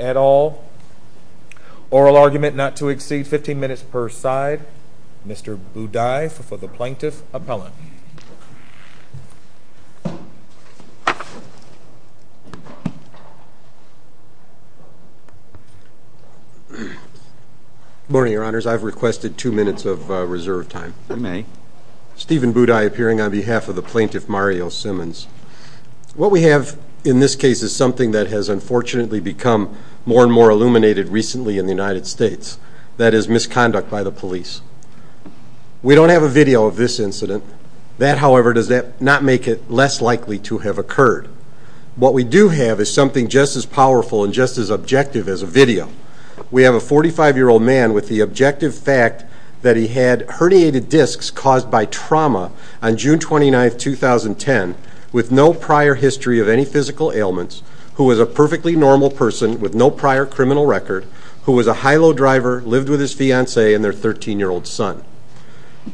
et al. Oral argument not to exceed 15 minutes per side. Mr. Boudai for the plaintiff, appellant. Good morning, your honors. I've requested two minutes of reserve time. I may. Stephen Boudai appearing on behalf of the plaintiff, Mario Simmons. What we have in this case is something that has unfortunately become more and more illuminated recently in the United States, that is misconduct by the police. We don't have a video of this incident. That however does not make it less likely to have occurred. What we do have is something just as powerful and just as objective as a video. We have a 45-year-old man with the objective fact that he had herniated discs caused by trauma on June 29, 2010, with no prior history of any physical ailments, who was a perfectly normal person with no prior criminal record, who was a high-low driver, lived with his fiancée and their 13-year-old son.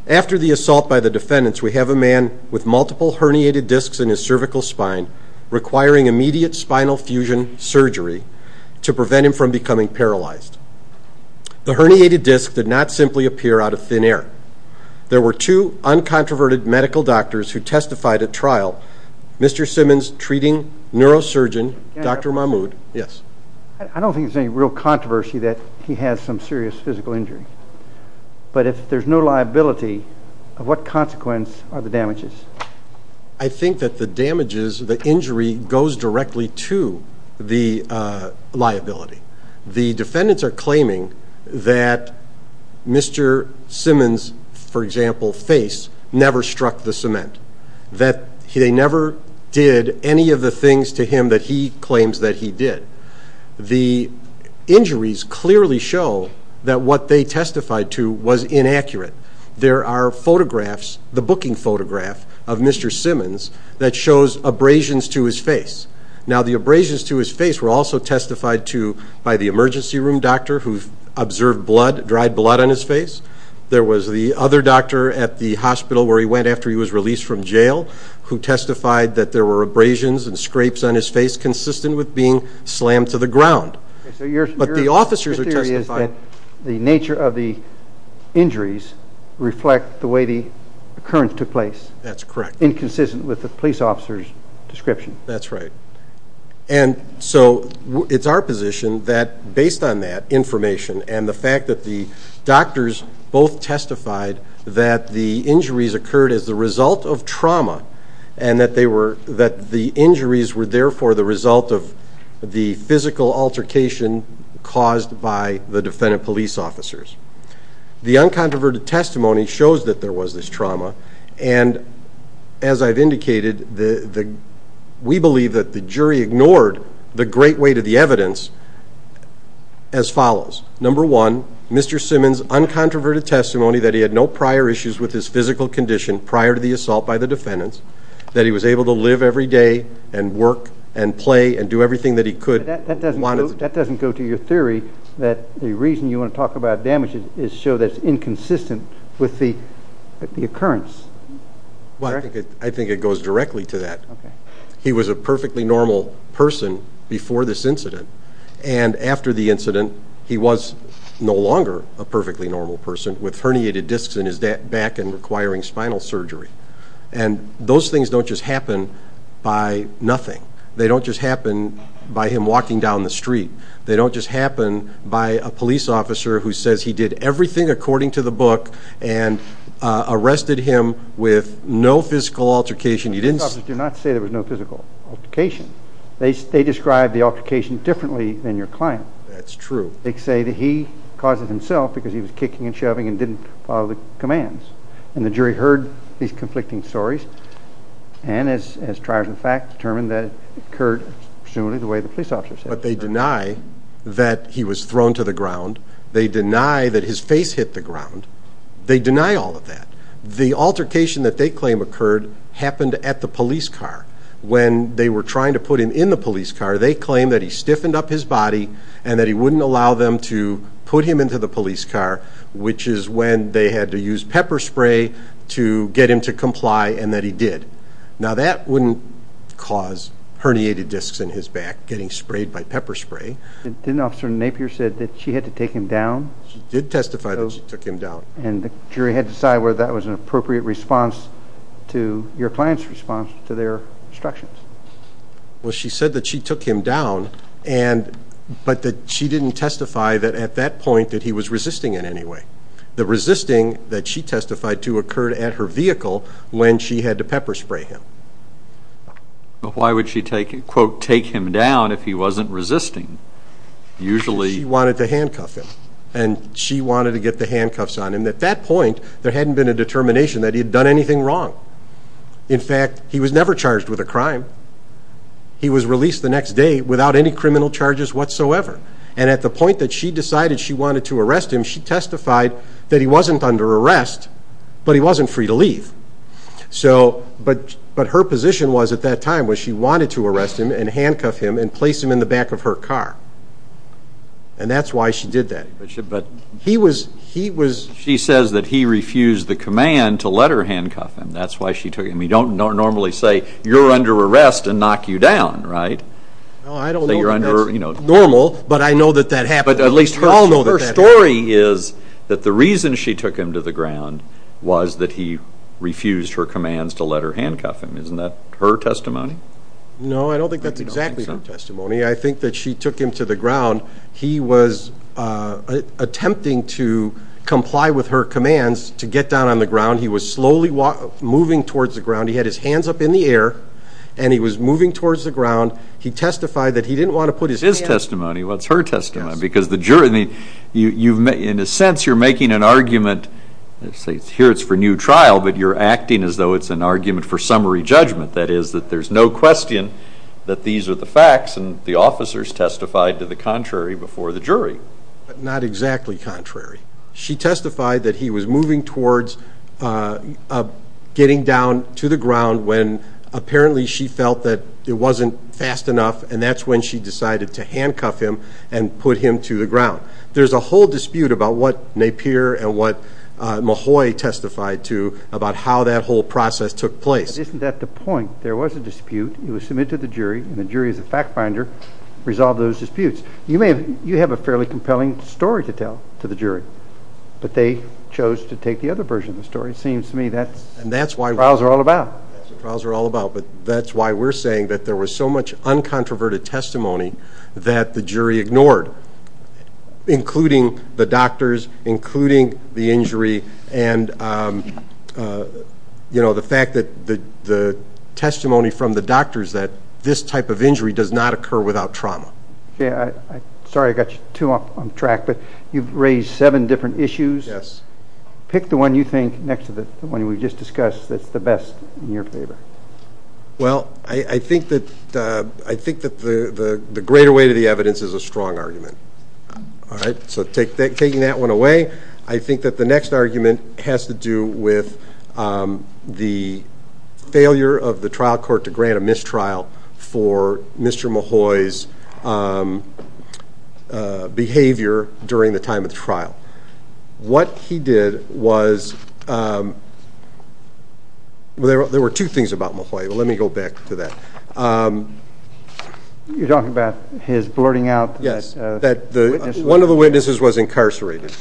After the assault by the defendants, we have a man with multiple herniated discs in his cervical spine requiring immediate spinal fusion surgery to prevent him from becoming paralyzed. The herniated disc did not simply appear out of thin air. There were two uncontroverted medical doctors who testified at trial. Mr. Simmons' treating neurosurgeon, Dr. Mahmoud. Yes. I don't think there's any real controversy that he has some serious physical injury. But if there's no liability, what consequence are the damages? I think that the damages, the injury goes directly to the liability. The defendants are claiming that Mr. Simmons, for example, face never struck the cement. That they never did any of the things to him that he claims that he did. The injuries clearly show that what they testified to was inaccurate. There are photographs, the booking photograph of Mr. Simmons that shows abrasions to his face. Now the abrasions to his face were also testified to by the emergency room doctor who observed blood, dried blood on his face. There was the other doctor at the hospital where he went after he was released from jail who testified that there were abrasions and scrapes on his face consistent with being slammed to the ground. But the officers are testifying. So your theory is that the nature of the injuries reflect the way the occurrence took place? That's correct. Inconsistent with the police officer's description. That's right. And so it's our position that based on that information and the fact that the doctors both testified that the injuries occurred as the result of trauma and that they were, the injuries were therefore the result of the physical altercation caused by the defendant police officers. The uncontroverted testimony shows that there was this trauma and as I've indicated, we believe that the jury ignored the great weight of the evidence as follows. Number one, Mr. Simmons uncontroverted testimony that he had no prior issues with his physical condition prior to the assault by the defendants, that he was able to live every day and work and play and do everything that he could. That doesn't go to your theory that the reason you want to talk about damages is to show that it's inconsistent with the occurrence. Well, I think it goes directly to that. He was a perfectly normal person before this incident and after the incident he was no longer a perfectly normal person with herniated discs in his back and requiring spinal surgery. And those things don't just happen by nothing. They don't just happen by him walking down the street. They don't just happen by a police officer who says he did everything according to the book and arrested him with no physical altercation. You didn't say there was no physical altercation. They described the altercation differently than your client. That's true. They say that he caused it himself because he was kicking and shoving and didn't follow the commands. And the jury heard these conflicting stories and as triars of fact determined that it occurred presumably the way the police officer said it. But they deny that he was thrown to the ground. They deny that his face hit the ground. They deny all of that. The altercation that they claim occurred happened at the police car. When they were trying to put him in the police car they claim that he stiffened up his body and that he wouldn't allow them to put him into the police car which is when they had to use pepper spray to get him to comply and that he did. Now that wouldn't cause herniated discs in his back getting sprayed by pepper spray. Didn't Officer Napier said that she had to take him down? She did testify that she took him down. And the jury had to decide whether that was an appropriate response to your client's response to their instructions. Well she said that she took him down and but that she didn't testify that at that point that he was resisting in any way. The resisting that she testified to occurred at her vehicle when she had to pepper spray him. But why would she take him quote take him down if he wasn't resisting? Usually she wanted to handcuff him and she wanted to get the handcuffs on him. At that point there hadn't been a determination that he had done anything wrong. In fact he was never charged with a crime. He was released the next day without any criminal charges whatsoever. And at the point that she decided she wanted to arrest him she testified that he wasn't under arrest but he wasn't free to leave. So but but her position was at that time was she wanted to arrest him and handcuff him and place him in the back of her car. And that's why she did that. But she but he was he was she says that he refused the command to let her handcuff him. That's why she took him. You don't normally say you're under arrest and knock you down right? No I don't think that's normal but I know that that happened. But at least her story is that the reason she took him to the ground was that he refused her commands to let her handcuff him. Isn't that her testimony? No I don't think that's exactly her testimony. I think that she took him to the ground. He was attempting to comply with her commands to get down on the ground. He was slowly moving towards the ground. He had his hands up in the air and he was moving towards the ground. He testified that he didn't want to put his hand. His testimony? What's her testimony? Because the jury I mean you you've made in a sense you're making an argument let's say here it's for new trial but you're acting as though it's an argument for summary judgment. That is that there's no question that these are the facts and the officers testified to the contrary before the jury. Not exactly contrary. She testified that he was moving towards getting down to the ground when apparently she felt that it wasn't fast enough and that's when she decided to handcuff him and put him to the ground. There's a whole dispute about what Napier and what Mahoy testified to about how that whole process took place. Isn't that the point? There was a dispute. It was submitted to the jury and the jury as a fact finder resolved those disputes. You may have you have a fairly compelling story to tell to the jury but they chose to take the other version of the story. It seems to me that's and that's why trials are all about. That's what trials are all about but that's why we're saying that there was so much uncontroverted testimony that the jury ignored including the doctors including the injury and you know the fact that the the doctors that this type of injury does not occur without trauma. Yeah I sorry I got you too off on track but you've raised seven different issues. Yes. Pick the one you think next to the one we just discussed that's the best in your favor. Well I think that I think that the the greater weight of the evidence is a strong argument. All right so take that taking that one away. I think that the next argument has to do with the failure of the trial court to grant a mistrial for Mr. Mahoy's behavior during the time of the trial. What he did was well there were two things about Mahoy but let me go back to that. You're talking about his blurting out. Yes that the one of the witnesses was incarcerated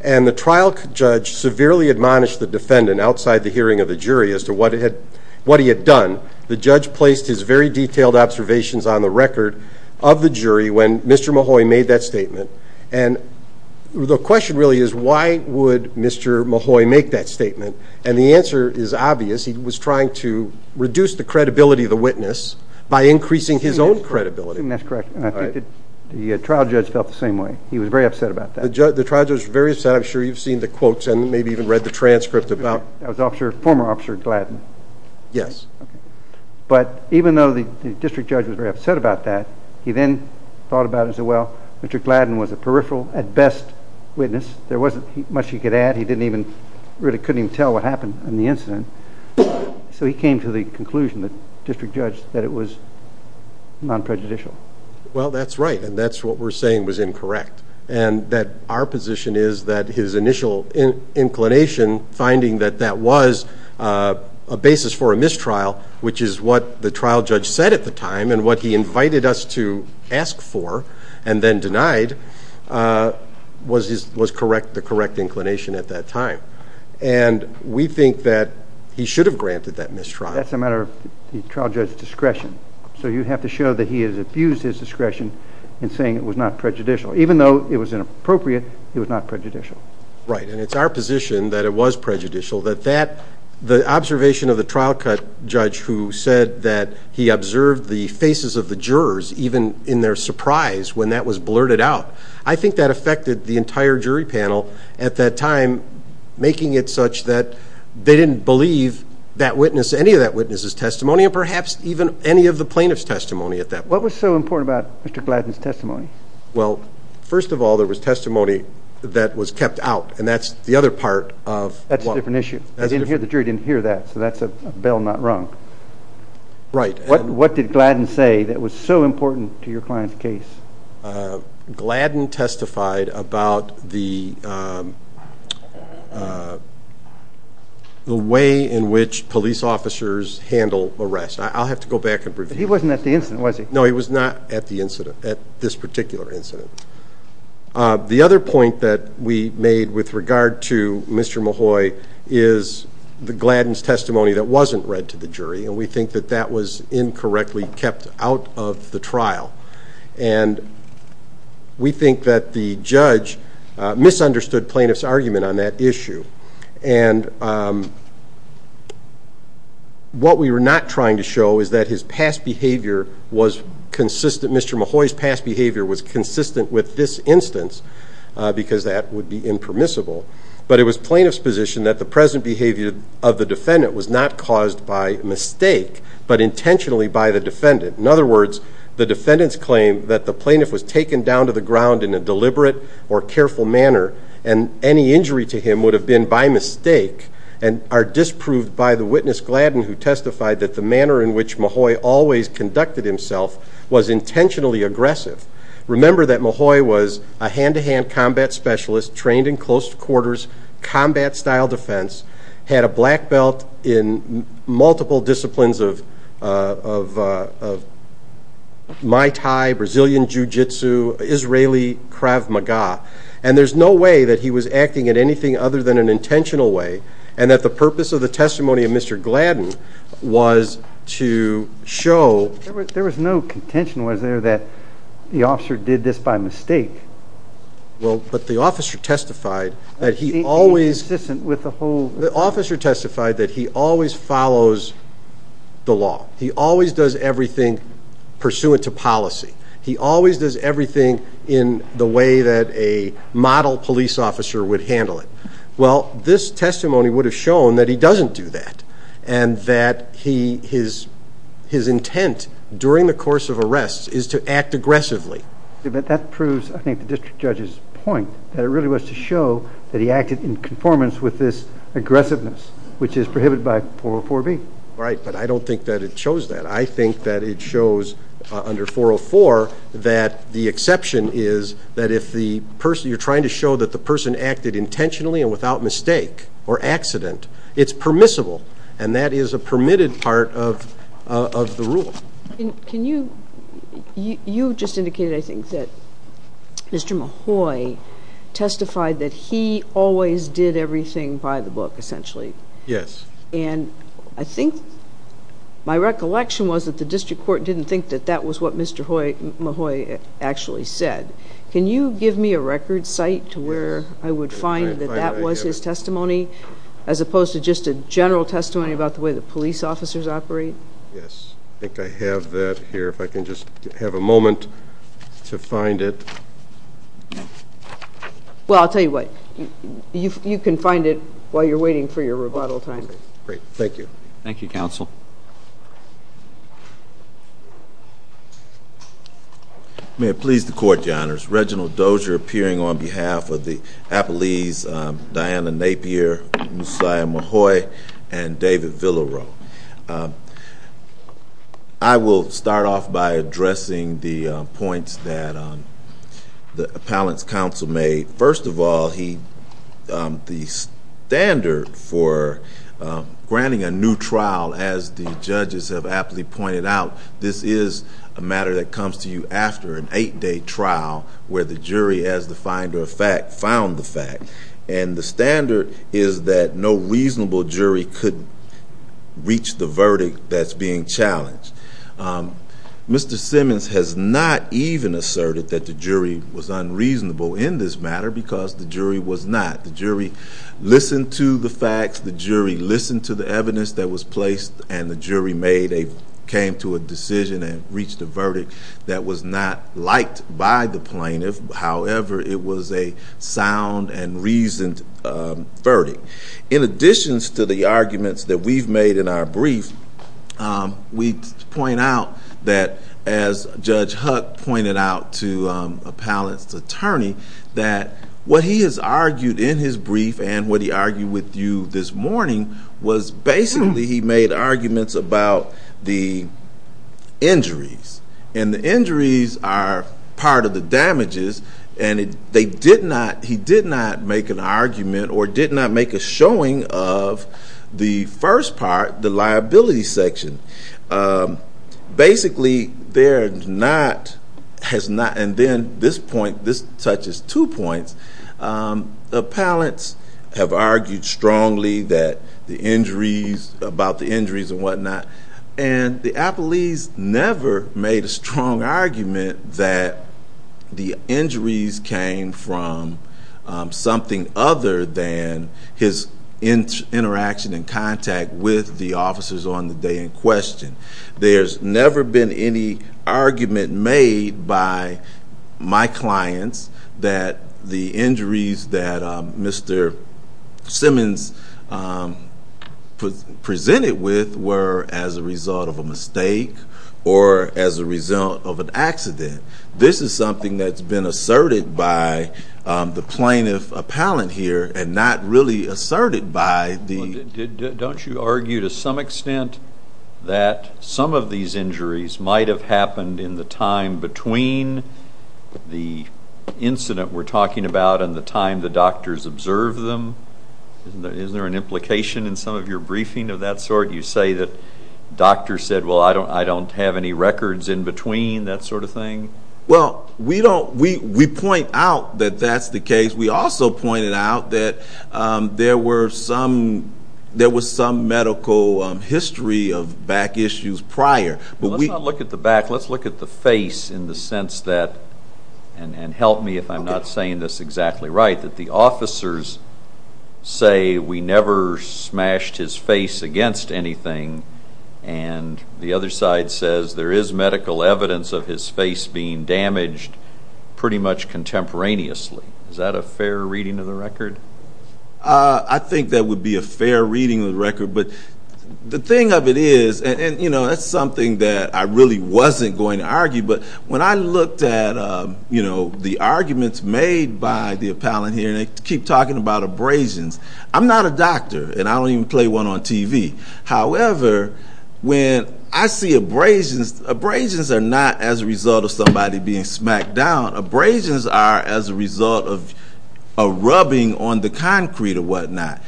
and the trial judge severely admonished the defendant outside the hearing of the jury as to what it had what he had done. The judge placed his very detailed observations on the record of the jury when Mr. Mahoy made that statement and the question really is why would Mr. Mahoy make that statement and the answer is obvious. He was trying to reduce the credibility of the by increasing his own credibility. That's correct and I think that the trial judge felt the same way. He was very upset about that. The trial judge was very upset I'm sure you've seen the quotes and maybe even read the transcript about. That was officer former officer Gladden. Yes. But even though the district judge was very upset about that he then thought about as well Mr. Gladden was a peripheral at best witness there wasn't much he could add he didn't even really couldn't even tell what happened in the incident. So he came to the conclusion that district judge that it was non-prejudicial. Well that's right and that's what we're saying was incorrect and that our position is that his initial inclination finding that that was a basis for a mistrial which is what the trial judge said at the time and what he invited us to ask for and then denied was his was correct the correct inclination at that time and we think that he should have so you have to show that he has abused his discretion in saying it was not prejudicial even though it was inappropriate it was not prejudicial. Right and it's our position that it was prejudicial that that the observation of the trial judge who said that he observed the faces of the jurors even in their surprise when that was blurted out I think that affected the entire jury panel at that time making it such that they didn't believe that witness any of that testimony and perhaps even any of the plaintiff's testimony at that. What was so important about Mr. Gladden's testimony? Well first of all there was testimony that was kept out and that's the other part of. That's a different issue I didn't hear the jury didn't hear that so that's a bell not rung. Right. What did Gladden say that was so important to your client's case? Gladden testified about the way in which police officers handle arrest. I'll have to go back and review. He wasn't at the incident was he? No he was not at the incident at this particular incident. The other point that we made with regard to Mr. Mahoy is the Gladden's testimony that wasn't read to the jury and we think that that was incorrectly kept out of the trial and we think that the judge misunderstood plaintiff's argument on that issue and what we were not trying to show is that his past behavior was consistent Mr. Mahoy's past behavior was consistent with this instance because that would be impermissible but it was plaintiff's position that the present behavior of the defendant was not caused by mistake but intentionally by the defendant. In other words the defendant's claim that the plaintiff was taken down to the ground in a deliberate or careful manner and any injury to him would have been by mistake and are disproved by the witness Gladden who testified that the manner in which Mahoy always conducted himself was intentionally aggressive. Remember that Mahoy was a hand-to-hand combat specialist trained in close quarters combat style defense had a black belt in multiple disciplines of Mai Tai, Brazilian Jiu-Jitsu, Israeli Krav Maga and there's no way that he was acting at anything other than an intentional way and that the purpose of the testimony of Mr. Gladden was to show. There was no contention was there that the officer did this by mistake? Well but the officer testified that he always consistent with the whole the officer testified that he always follows the law he always does everything pursuant to policy he always does everything in the way that a model police officer would handle it well this testimony would have shown that he doesn't do that and that he his his intent during the course of arrests is to act aggressively. But that proves I think the district judge's point that it really was to show that he acted in conformance with this aggressiveness which is prohibited by 404B. Right but I don't think that it shows that I think that it shows under 404 that the exception is that if the person you're trying to show that the person acted intentionally and without mistake or accident it's permissible and that is a permitted part of of the rule. Can you you just indicated I think that Mr. Mahoy testified that he always did everything by the book essentially. Yes. And I think my recollection was that the district court didn't think that that was what Mr. Mahoy actually said. Can you give me a record site to where I would find that that was his testimony as opposed to just a general testimony about the way the police officers operate? Yes I think I have that here if I can just have a moment to find it. Well I'll tell you what you you can find it while you're waiting for your rebuttal time. Great thank you. Thank you counsel. I may have pleased the court your honors. Reginald Dozier appearing on behalf of the appellees Diana Napier, Musiah Mahoy and David Villarro. I will start off by addressing the points that the appellant's counsel made. First of all he the standard for granting a new trial as the judges have aptly pointed out this is a matter that comes to you after an eight-day trial where the jury as the finder of fact found the fact and the standard is that no reasonable jury could reach the verdict that's being challenged. Mr. Simmons has not even asserted that the jury was unreasonable in this matter because the jury was not. The jury listened to the facts, the jury and the jury made a came to a decision and reached a verdict that was not liked by the plaintiff however it was a sound and reasoned verdict. In addition to the arguments that we've made in our brief we point out that as Judge Huck pointed out to appellate's attorney that what he has argued in his brief and what he argued with you this morning was basically he made arguments about the injuries and the injuries are part of the damages and they did not he did not make an argument or did not make a showing of the first part the liability section. Basically they're not has not and then this point this touches two points appellate's have argued strongly that the injuries about the injuries and whatnot and the appellee's never made a strong argument that the injuries came from something other than his interaction and contact with the officers on the in question. There's never been any argument made by my clients that the injuries that Mr. Simmons presented with were as a result of a mistake or as a result of an accident. This is something that's been asserted by the plaintiff appellate here and not really asserted by the... Don't you argue to some extent that some of these injuries might have happened in the time between the incident we're talking about and the time the doctors observed them? Is there an implication in some of your briefing of that sort you say that doctors said well I don't have any records in between that sort of thing? Well we don't we we point out that that's the case we also pointed out that there were some there was some medical history of back issues prior. Let's not look at the back let's look at the face in the sense that and help me if I'm not saying this exactly right that the officers say we never smashed his face against anything and the other side says there is medical evidence of his face being damaged pretty much contemporaneously. Is that a fair reading of the record? I think that would be a fair reading of the record but the thing of it is and you know that's something that I really wasn't going to argue but when I looked at you know the arguments made by the appellant here they keep talking about abrasions. I'm not a doctor and I don't even play one on TV. However when I see abrasions, abrasions are not as a result of somebody being smacked down. Abrasions are as a result of a rubbing on the concrete or whatnot.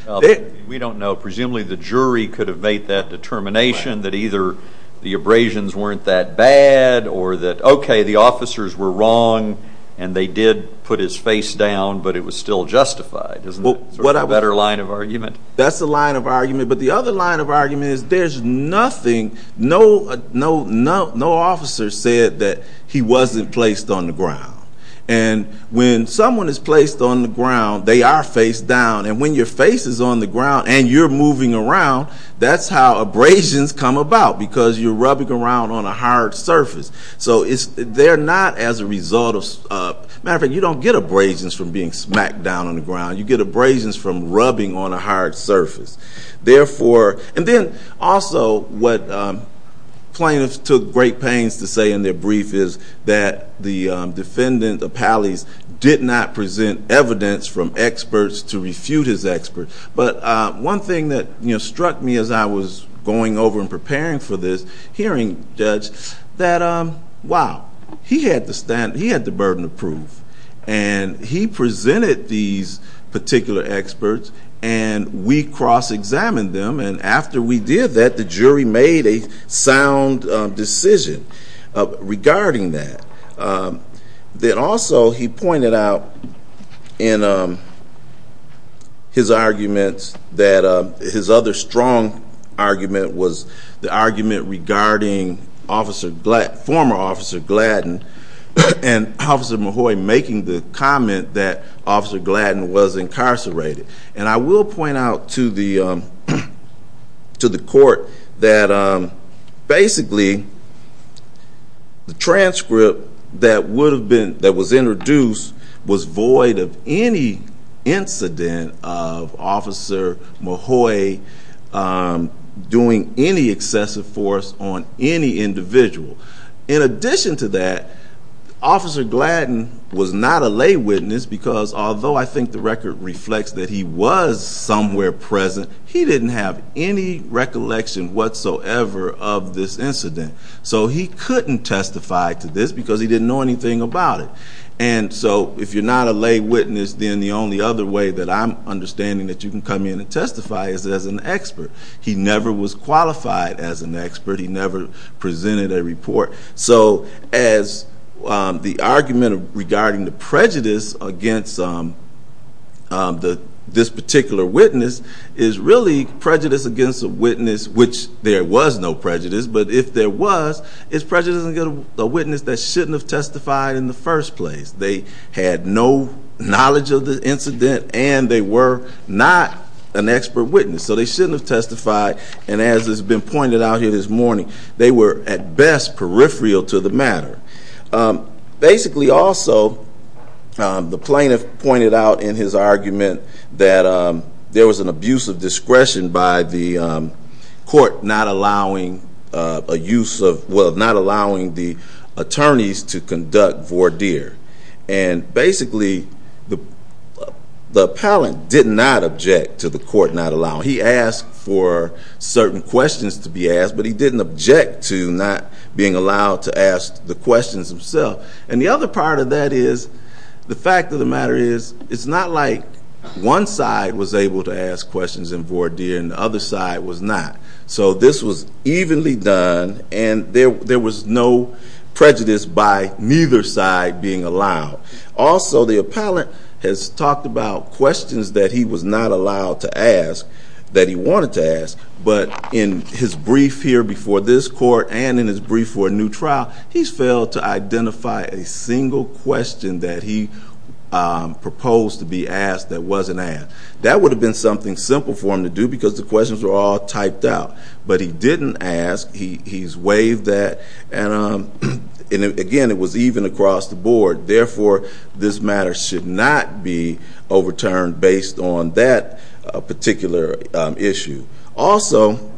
We don't know presumably the jury could evade that determination that either the abrasions weren't that bad or that okay the officers were wrong and they did put his face down but it was still justified. What a better line of argument. That's the line of argument but the other line of argument is there's nothing no no no no officer said that he wasn't placed on the ground and when someone is placed on the ground they are faced down and when your face is on the ground and you're moving around that's how abrasions come about because you're rubbing around on a hard surface. So it's they're not as a result of matter of fact you don't get abrasions from being smacked down on the ground you get abrasions from rubbing on a hard surface. Therefore and then also what plaintiffs took great pains to say in their brief is that the defendant Apalis did not present evidence from experts to refute his expert but one thing that you know struck me as I was going over and preparing for this hearing judge that wow he had to stand he had the burden of proof and he presented these particular experts and we cross-examined them and after we did that the jury made a sound decision regarding that. Then also he pointed out in his arguments that his other strong argument was the argument regarding officer former officer Gladden and officer Mahoy making the comment that officer Gladden was incarcerated and I will point out to the to the court that basically the transcript that would have been that was introduced was void of any incident of officer Mahoy doing any excessive force on any individual. In addition to that officer Gladden was not a lay witness because although I think the record reflects that he was somewhere present he didn't have any recollection whatsoever of this incident. So he couldn't testify to this because he didn't know anything about it and so if you're not a lay witness then the only other way that I'm that you can come in and testify is as an expert. He never was qualified as an expert he never presented a report so as the argument regarding the prejudice against this particular witness is really prejudice against a witness which there was no prejudice but if there was it's prejudice against a witness that shouldn't have testified in the first place. They had no knowledge of the not an expert witness so they shouldn't have testified and as has been pointed out here this morning they were at best peripheral to the matter. Basically also the plaintiff pointed out in his argument that there was an abuse of discretion by the court not allowing a use of not allowing the attorneys to conduct voir dire and basically the appellant did not object to the court not allowing he asked for certain questions to be asked but he didn't object to not being allowed to ask the questions himself and the other part of that is the fact of the matter is it's not like one side was able to ask questions in voir dire and the other side was not so this was evenly done and there was no prejudice by neither side being allowed. Also the appellant has talked about questions that he was not allowed to ask that he wanted to ask but in his brief here before this court and in his brief for a new trial he's failed to identify a single question that he proposed to be asked that wasn't asked. That would have been something simple for him to do because the questions were all typed out but he didn't ask he's waived that and again it was even across the board therefore this matter should not be overturned based on that particular issue. Also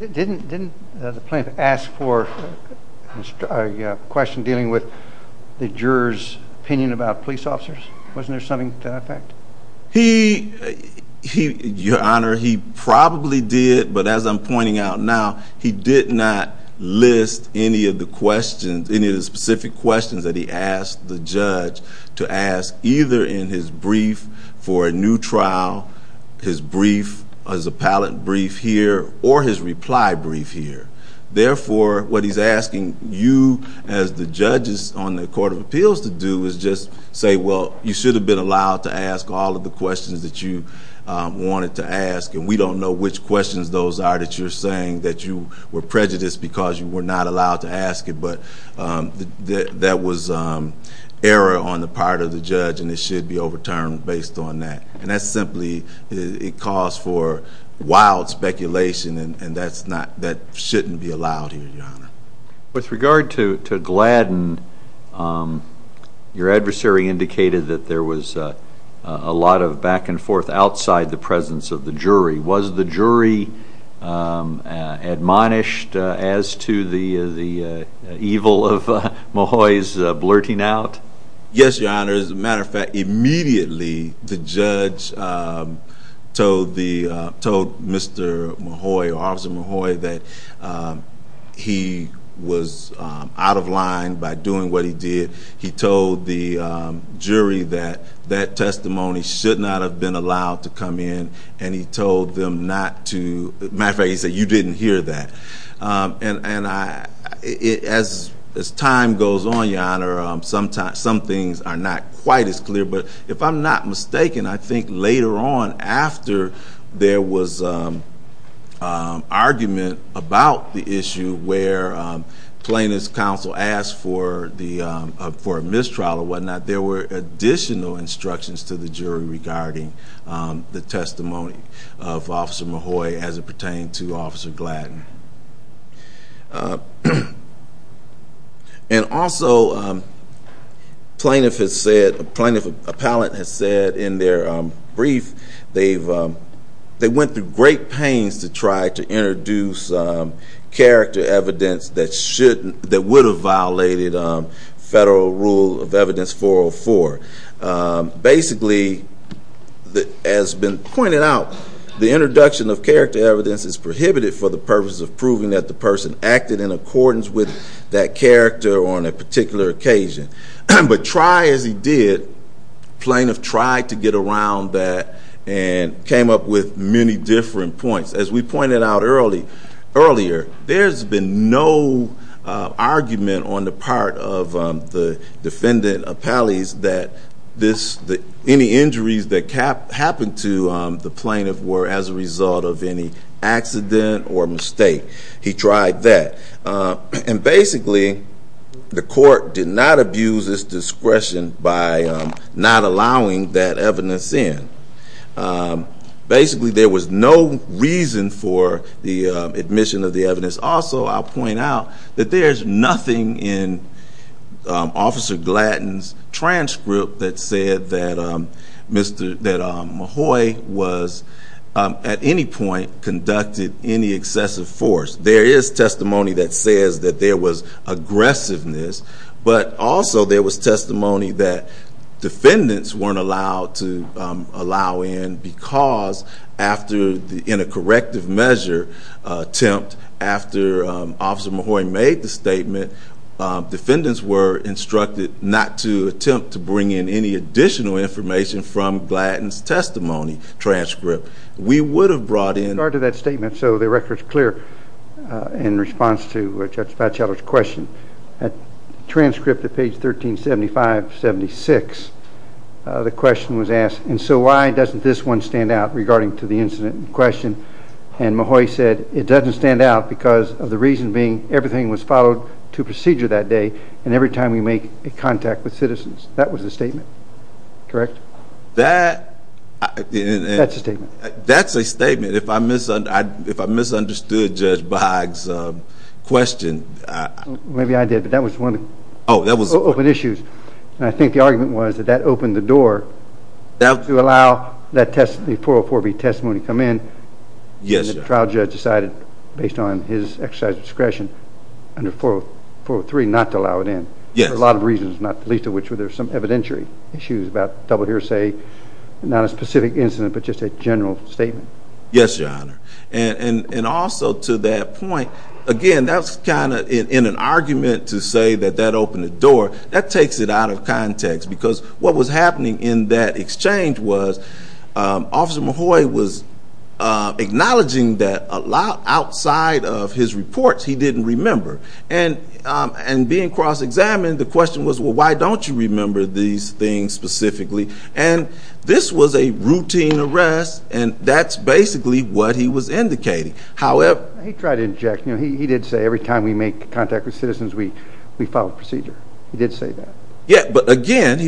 didn't the plaintiff ask for a question dealing with the jurors opinion about police officers? Wasn't there something to that effect? He your honor he probably did but as I'm pointing out now he did not list any of the questions any of the specific questions that he asked the judge to ask either in his brief for a new trial his brief as appellant brief here or his reply brief here therefore what he's asking you as the judges on the court of is just say well you should have been allowed to ask all of the questions that you wanted to ask and we don't know which questions those are that you're saying that you were prejudiced because you were not allowed to ask it but that was error on the part of the judge and it should be overturned based on that and that's simply it calls for wild speculation and that's that shouldn't be allowed here your honor. With regard to Gladden your adversary indicated that there was a lot of back and forth outside the presence of the jury. Was the jury admonished as to the the evil of Mahoy's blurting out? Yes your honor as a matter of fact immediately the judge told the told Mr. Mahoy or Officer Mahoy that he was out of line by doing what he did he told the jury that that testimony should not have been allowed to come in and he told them not to matter of fact he said you didn't hear that and and I it as as time goes on your honor sometimes some things are not quite as clear but if I'm not mistaken I think later on after there was argument about the issue where plaintiff's counsel asked for the for a mistrial or whatnot there were additional instructions to the jury regarding the testimony of Officer Mahoy as it pertained to Officer Gladden. And also plaintiff has said plaintiff appellate has said in their brief they've they went through great pains to try to introduce character evidence that shouldn't that would have violated federal rule of evidence 404. Basically that has been pointed out the prohibited for the purposes of proving that the person acted in accordance with that character on a particular occasion but try as he did plaintiff tried to get around that and came up with many different points as we pointed out early earlier there's been no argument on the part of the defendant appellees that this the any injuries that cap happened to the plaintiff were as a result of any accident or mistake. He tried that and basically the court did not abuse this discretion by not allowing that evidence in. Basically there was no reason for the admission of the evidence also I'll point out that there's nothing in Officer Gladden's transcript that said that Mahoy was at any point conducted any excessive force. There is testimony that says that there was aggressiveness but also there was testimony that defendants weren't allowed to allow in because after the in a corrective measure attempt after Officer Mahoy made the statement defendants were instructed not to attempt to bring in any additional information from Gladden's testimony transcript. We would have brought in after that statement so the record is clear in response to Judge Fouchelor's question that transcript at page 1375 76 the question was asked and so why doesn't this one stand out regarding to the incident in question and Mahoy said it doesn't stand out because of the reason being everything was followed to procedure that day and every time we make a contact with citizens that was the statement correct? That's a statement if I misunderstood Judge Boggs question. Maybe I did but that was one of the open issues and I think the argument was that that opened the door to allow that test the 404B testimony come in. Yes. The trial judge decided based on his exercise discretion under 403 not to allow it in. Yes. A lot of reasons not the least of which were there some evidentiary issues about double hearsay not a specific incident but just a general statement. Yes your honor and also to that point again that's kind of in an argument to say that that opened the door that takes it out of context because what was happening in that exchange was Officer Mahoy was acknowledging that a lot outside of his reports he didn't remember and being cross-examined the question was well why don't you remember these things specifically and this was a routine arrest and that's basically what he was indicating however. He tried to inject you know he did say every time we make contact with citizens we follow procedure he did say that. Yeah but again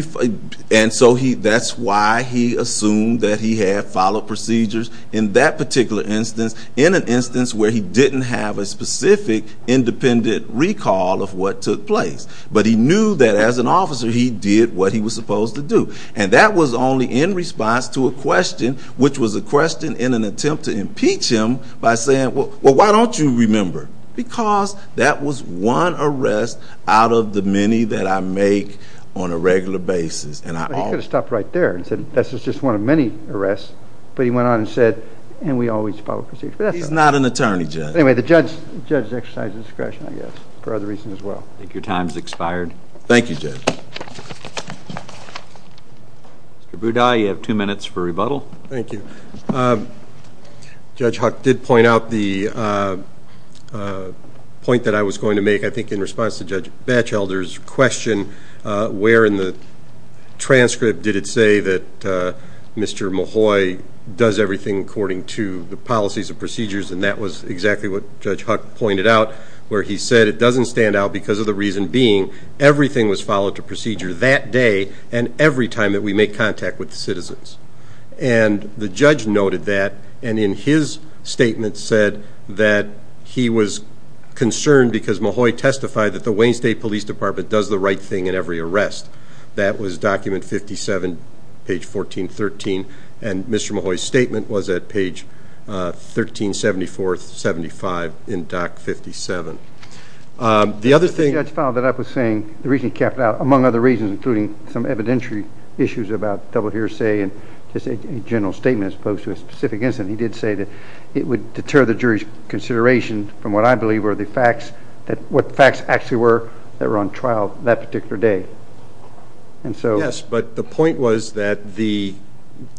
and so he that's why he assumed that he had followed procedures in that particular instance in an instance where he didn't have a specific independent recall of what took place but he knew that as an officer he did what he was supposed to do and that was only in response to a question which was a question in an attempt to impeach him by saying well why don't you remember because that was one arrest out of the many that I make on a regular basis and I could have stopped right there and said this is just one of many arrests but he went on and said and we always follow procedure. He's not an attorney judge. Anyway the judge judge's exercise of discretion I guess for other reasons as well. I think your time's expired. Thank you Judge. Mr. Budai you have two minutes for rebuttal. Thank you Judge Huck did point out the point that I was going to make I think in response to Judge Batchelder's question where in the transcript did it say that Mr. Mahoy does everything according to the policies and procedures and that was exactly what Judge Huck pointed out where he said it doesn't stand out because of the reason being everything was followed to procedure that day and every time that we make contact with citizens and the judge noted that and in his statement said that he was concerned because Mahoy testified that the Wayne State Police Department does the right thing in every arrest. That was document 57 page 1413 and Mr. Mahoy's statement was at page 1374 75 in doc 57. The other thing. The judge found that I was saying the reason he kept out among other reasons including some evidentiary issues about double hearsay and just a general statement as opposed to a specific incident he did say that it would deter the jury's consideration from what I believe were the facts that what facts actually were that were on trial that particular day and so. Yes but the point was that the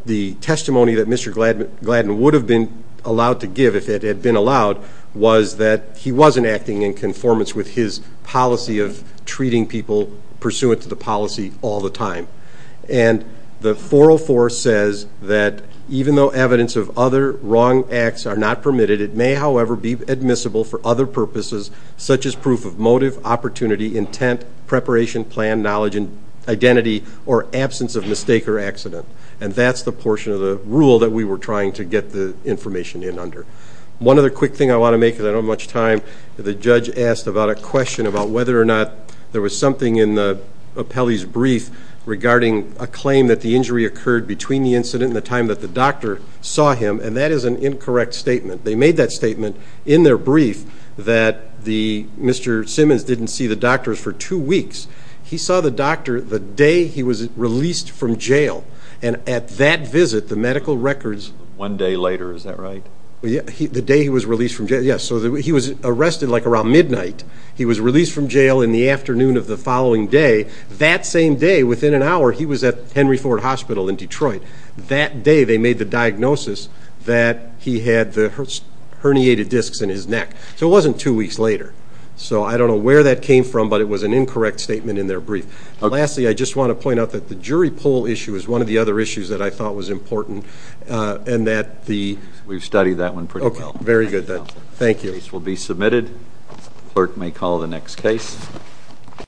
the testimony that Mr. Gladden would have been allowed to give if it had been allowed was that he wasn't acting in conformance with his policy of treating people pursuant to the policy all the time and the 404 says that even though evidence of other wrong acts are not permitted it may however be admissible for other purposes such as proof of motive opportunity intent preparation plan knowledge and identity or absence of mistake or accident and that's the portion of the rule that we were trying to get the information in under. One other quick thing I want to make is I don't much time the judge asked about a question about whether or not there was something in the appellee's brief regarding a claim that the injury occurred between the incident in the time that the doctor saw him and that is an incorrect statement they made that statement in their brief that the Mr. Simmons didn't see the doctors for two weeks he saw the doctor the day he was released from jail and at that visit the medical records. One day later is that right? Yeah the day he was released from jail yes so he was arrested like around midnight he was released from jail in the afternoon of the following day that same day within an hour he was at Henry Ford Hospital in Detroit that day they made the diagnosis that he had the herniated discs in his neck so it wasn't two weeks later so I don't know where that came from but it was an incorrect statement in their brief. Lastly I just want to point out that the jury poll issue is one of the other issues that I thought was important and that the we've studied that one pretty well. Okay very good thank you. This case will be submitted clerk may call the next case.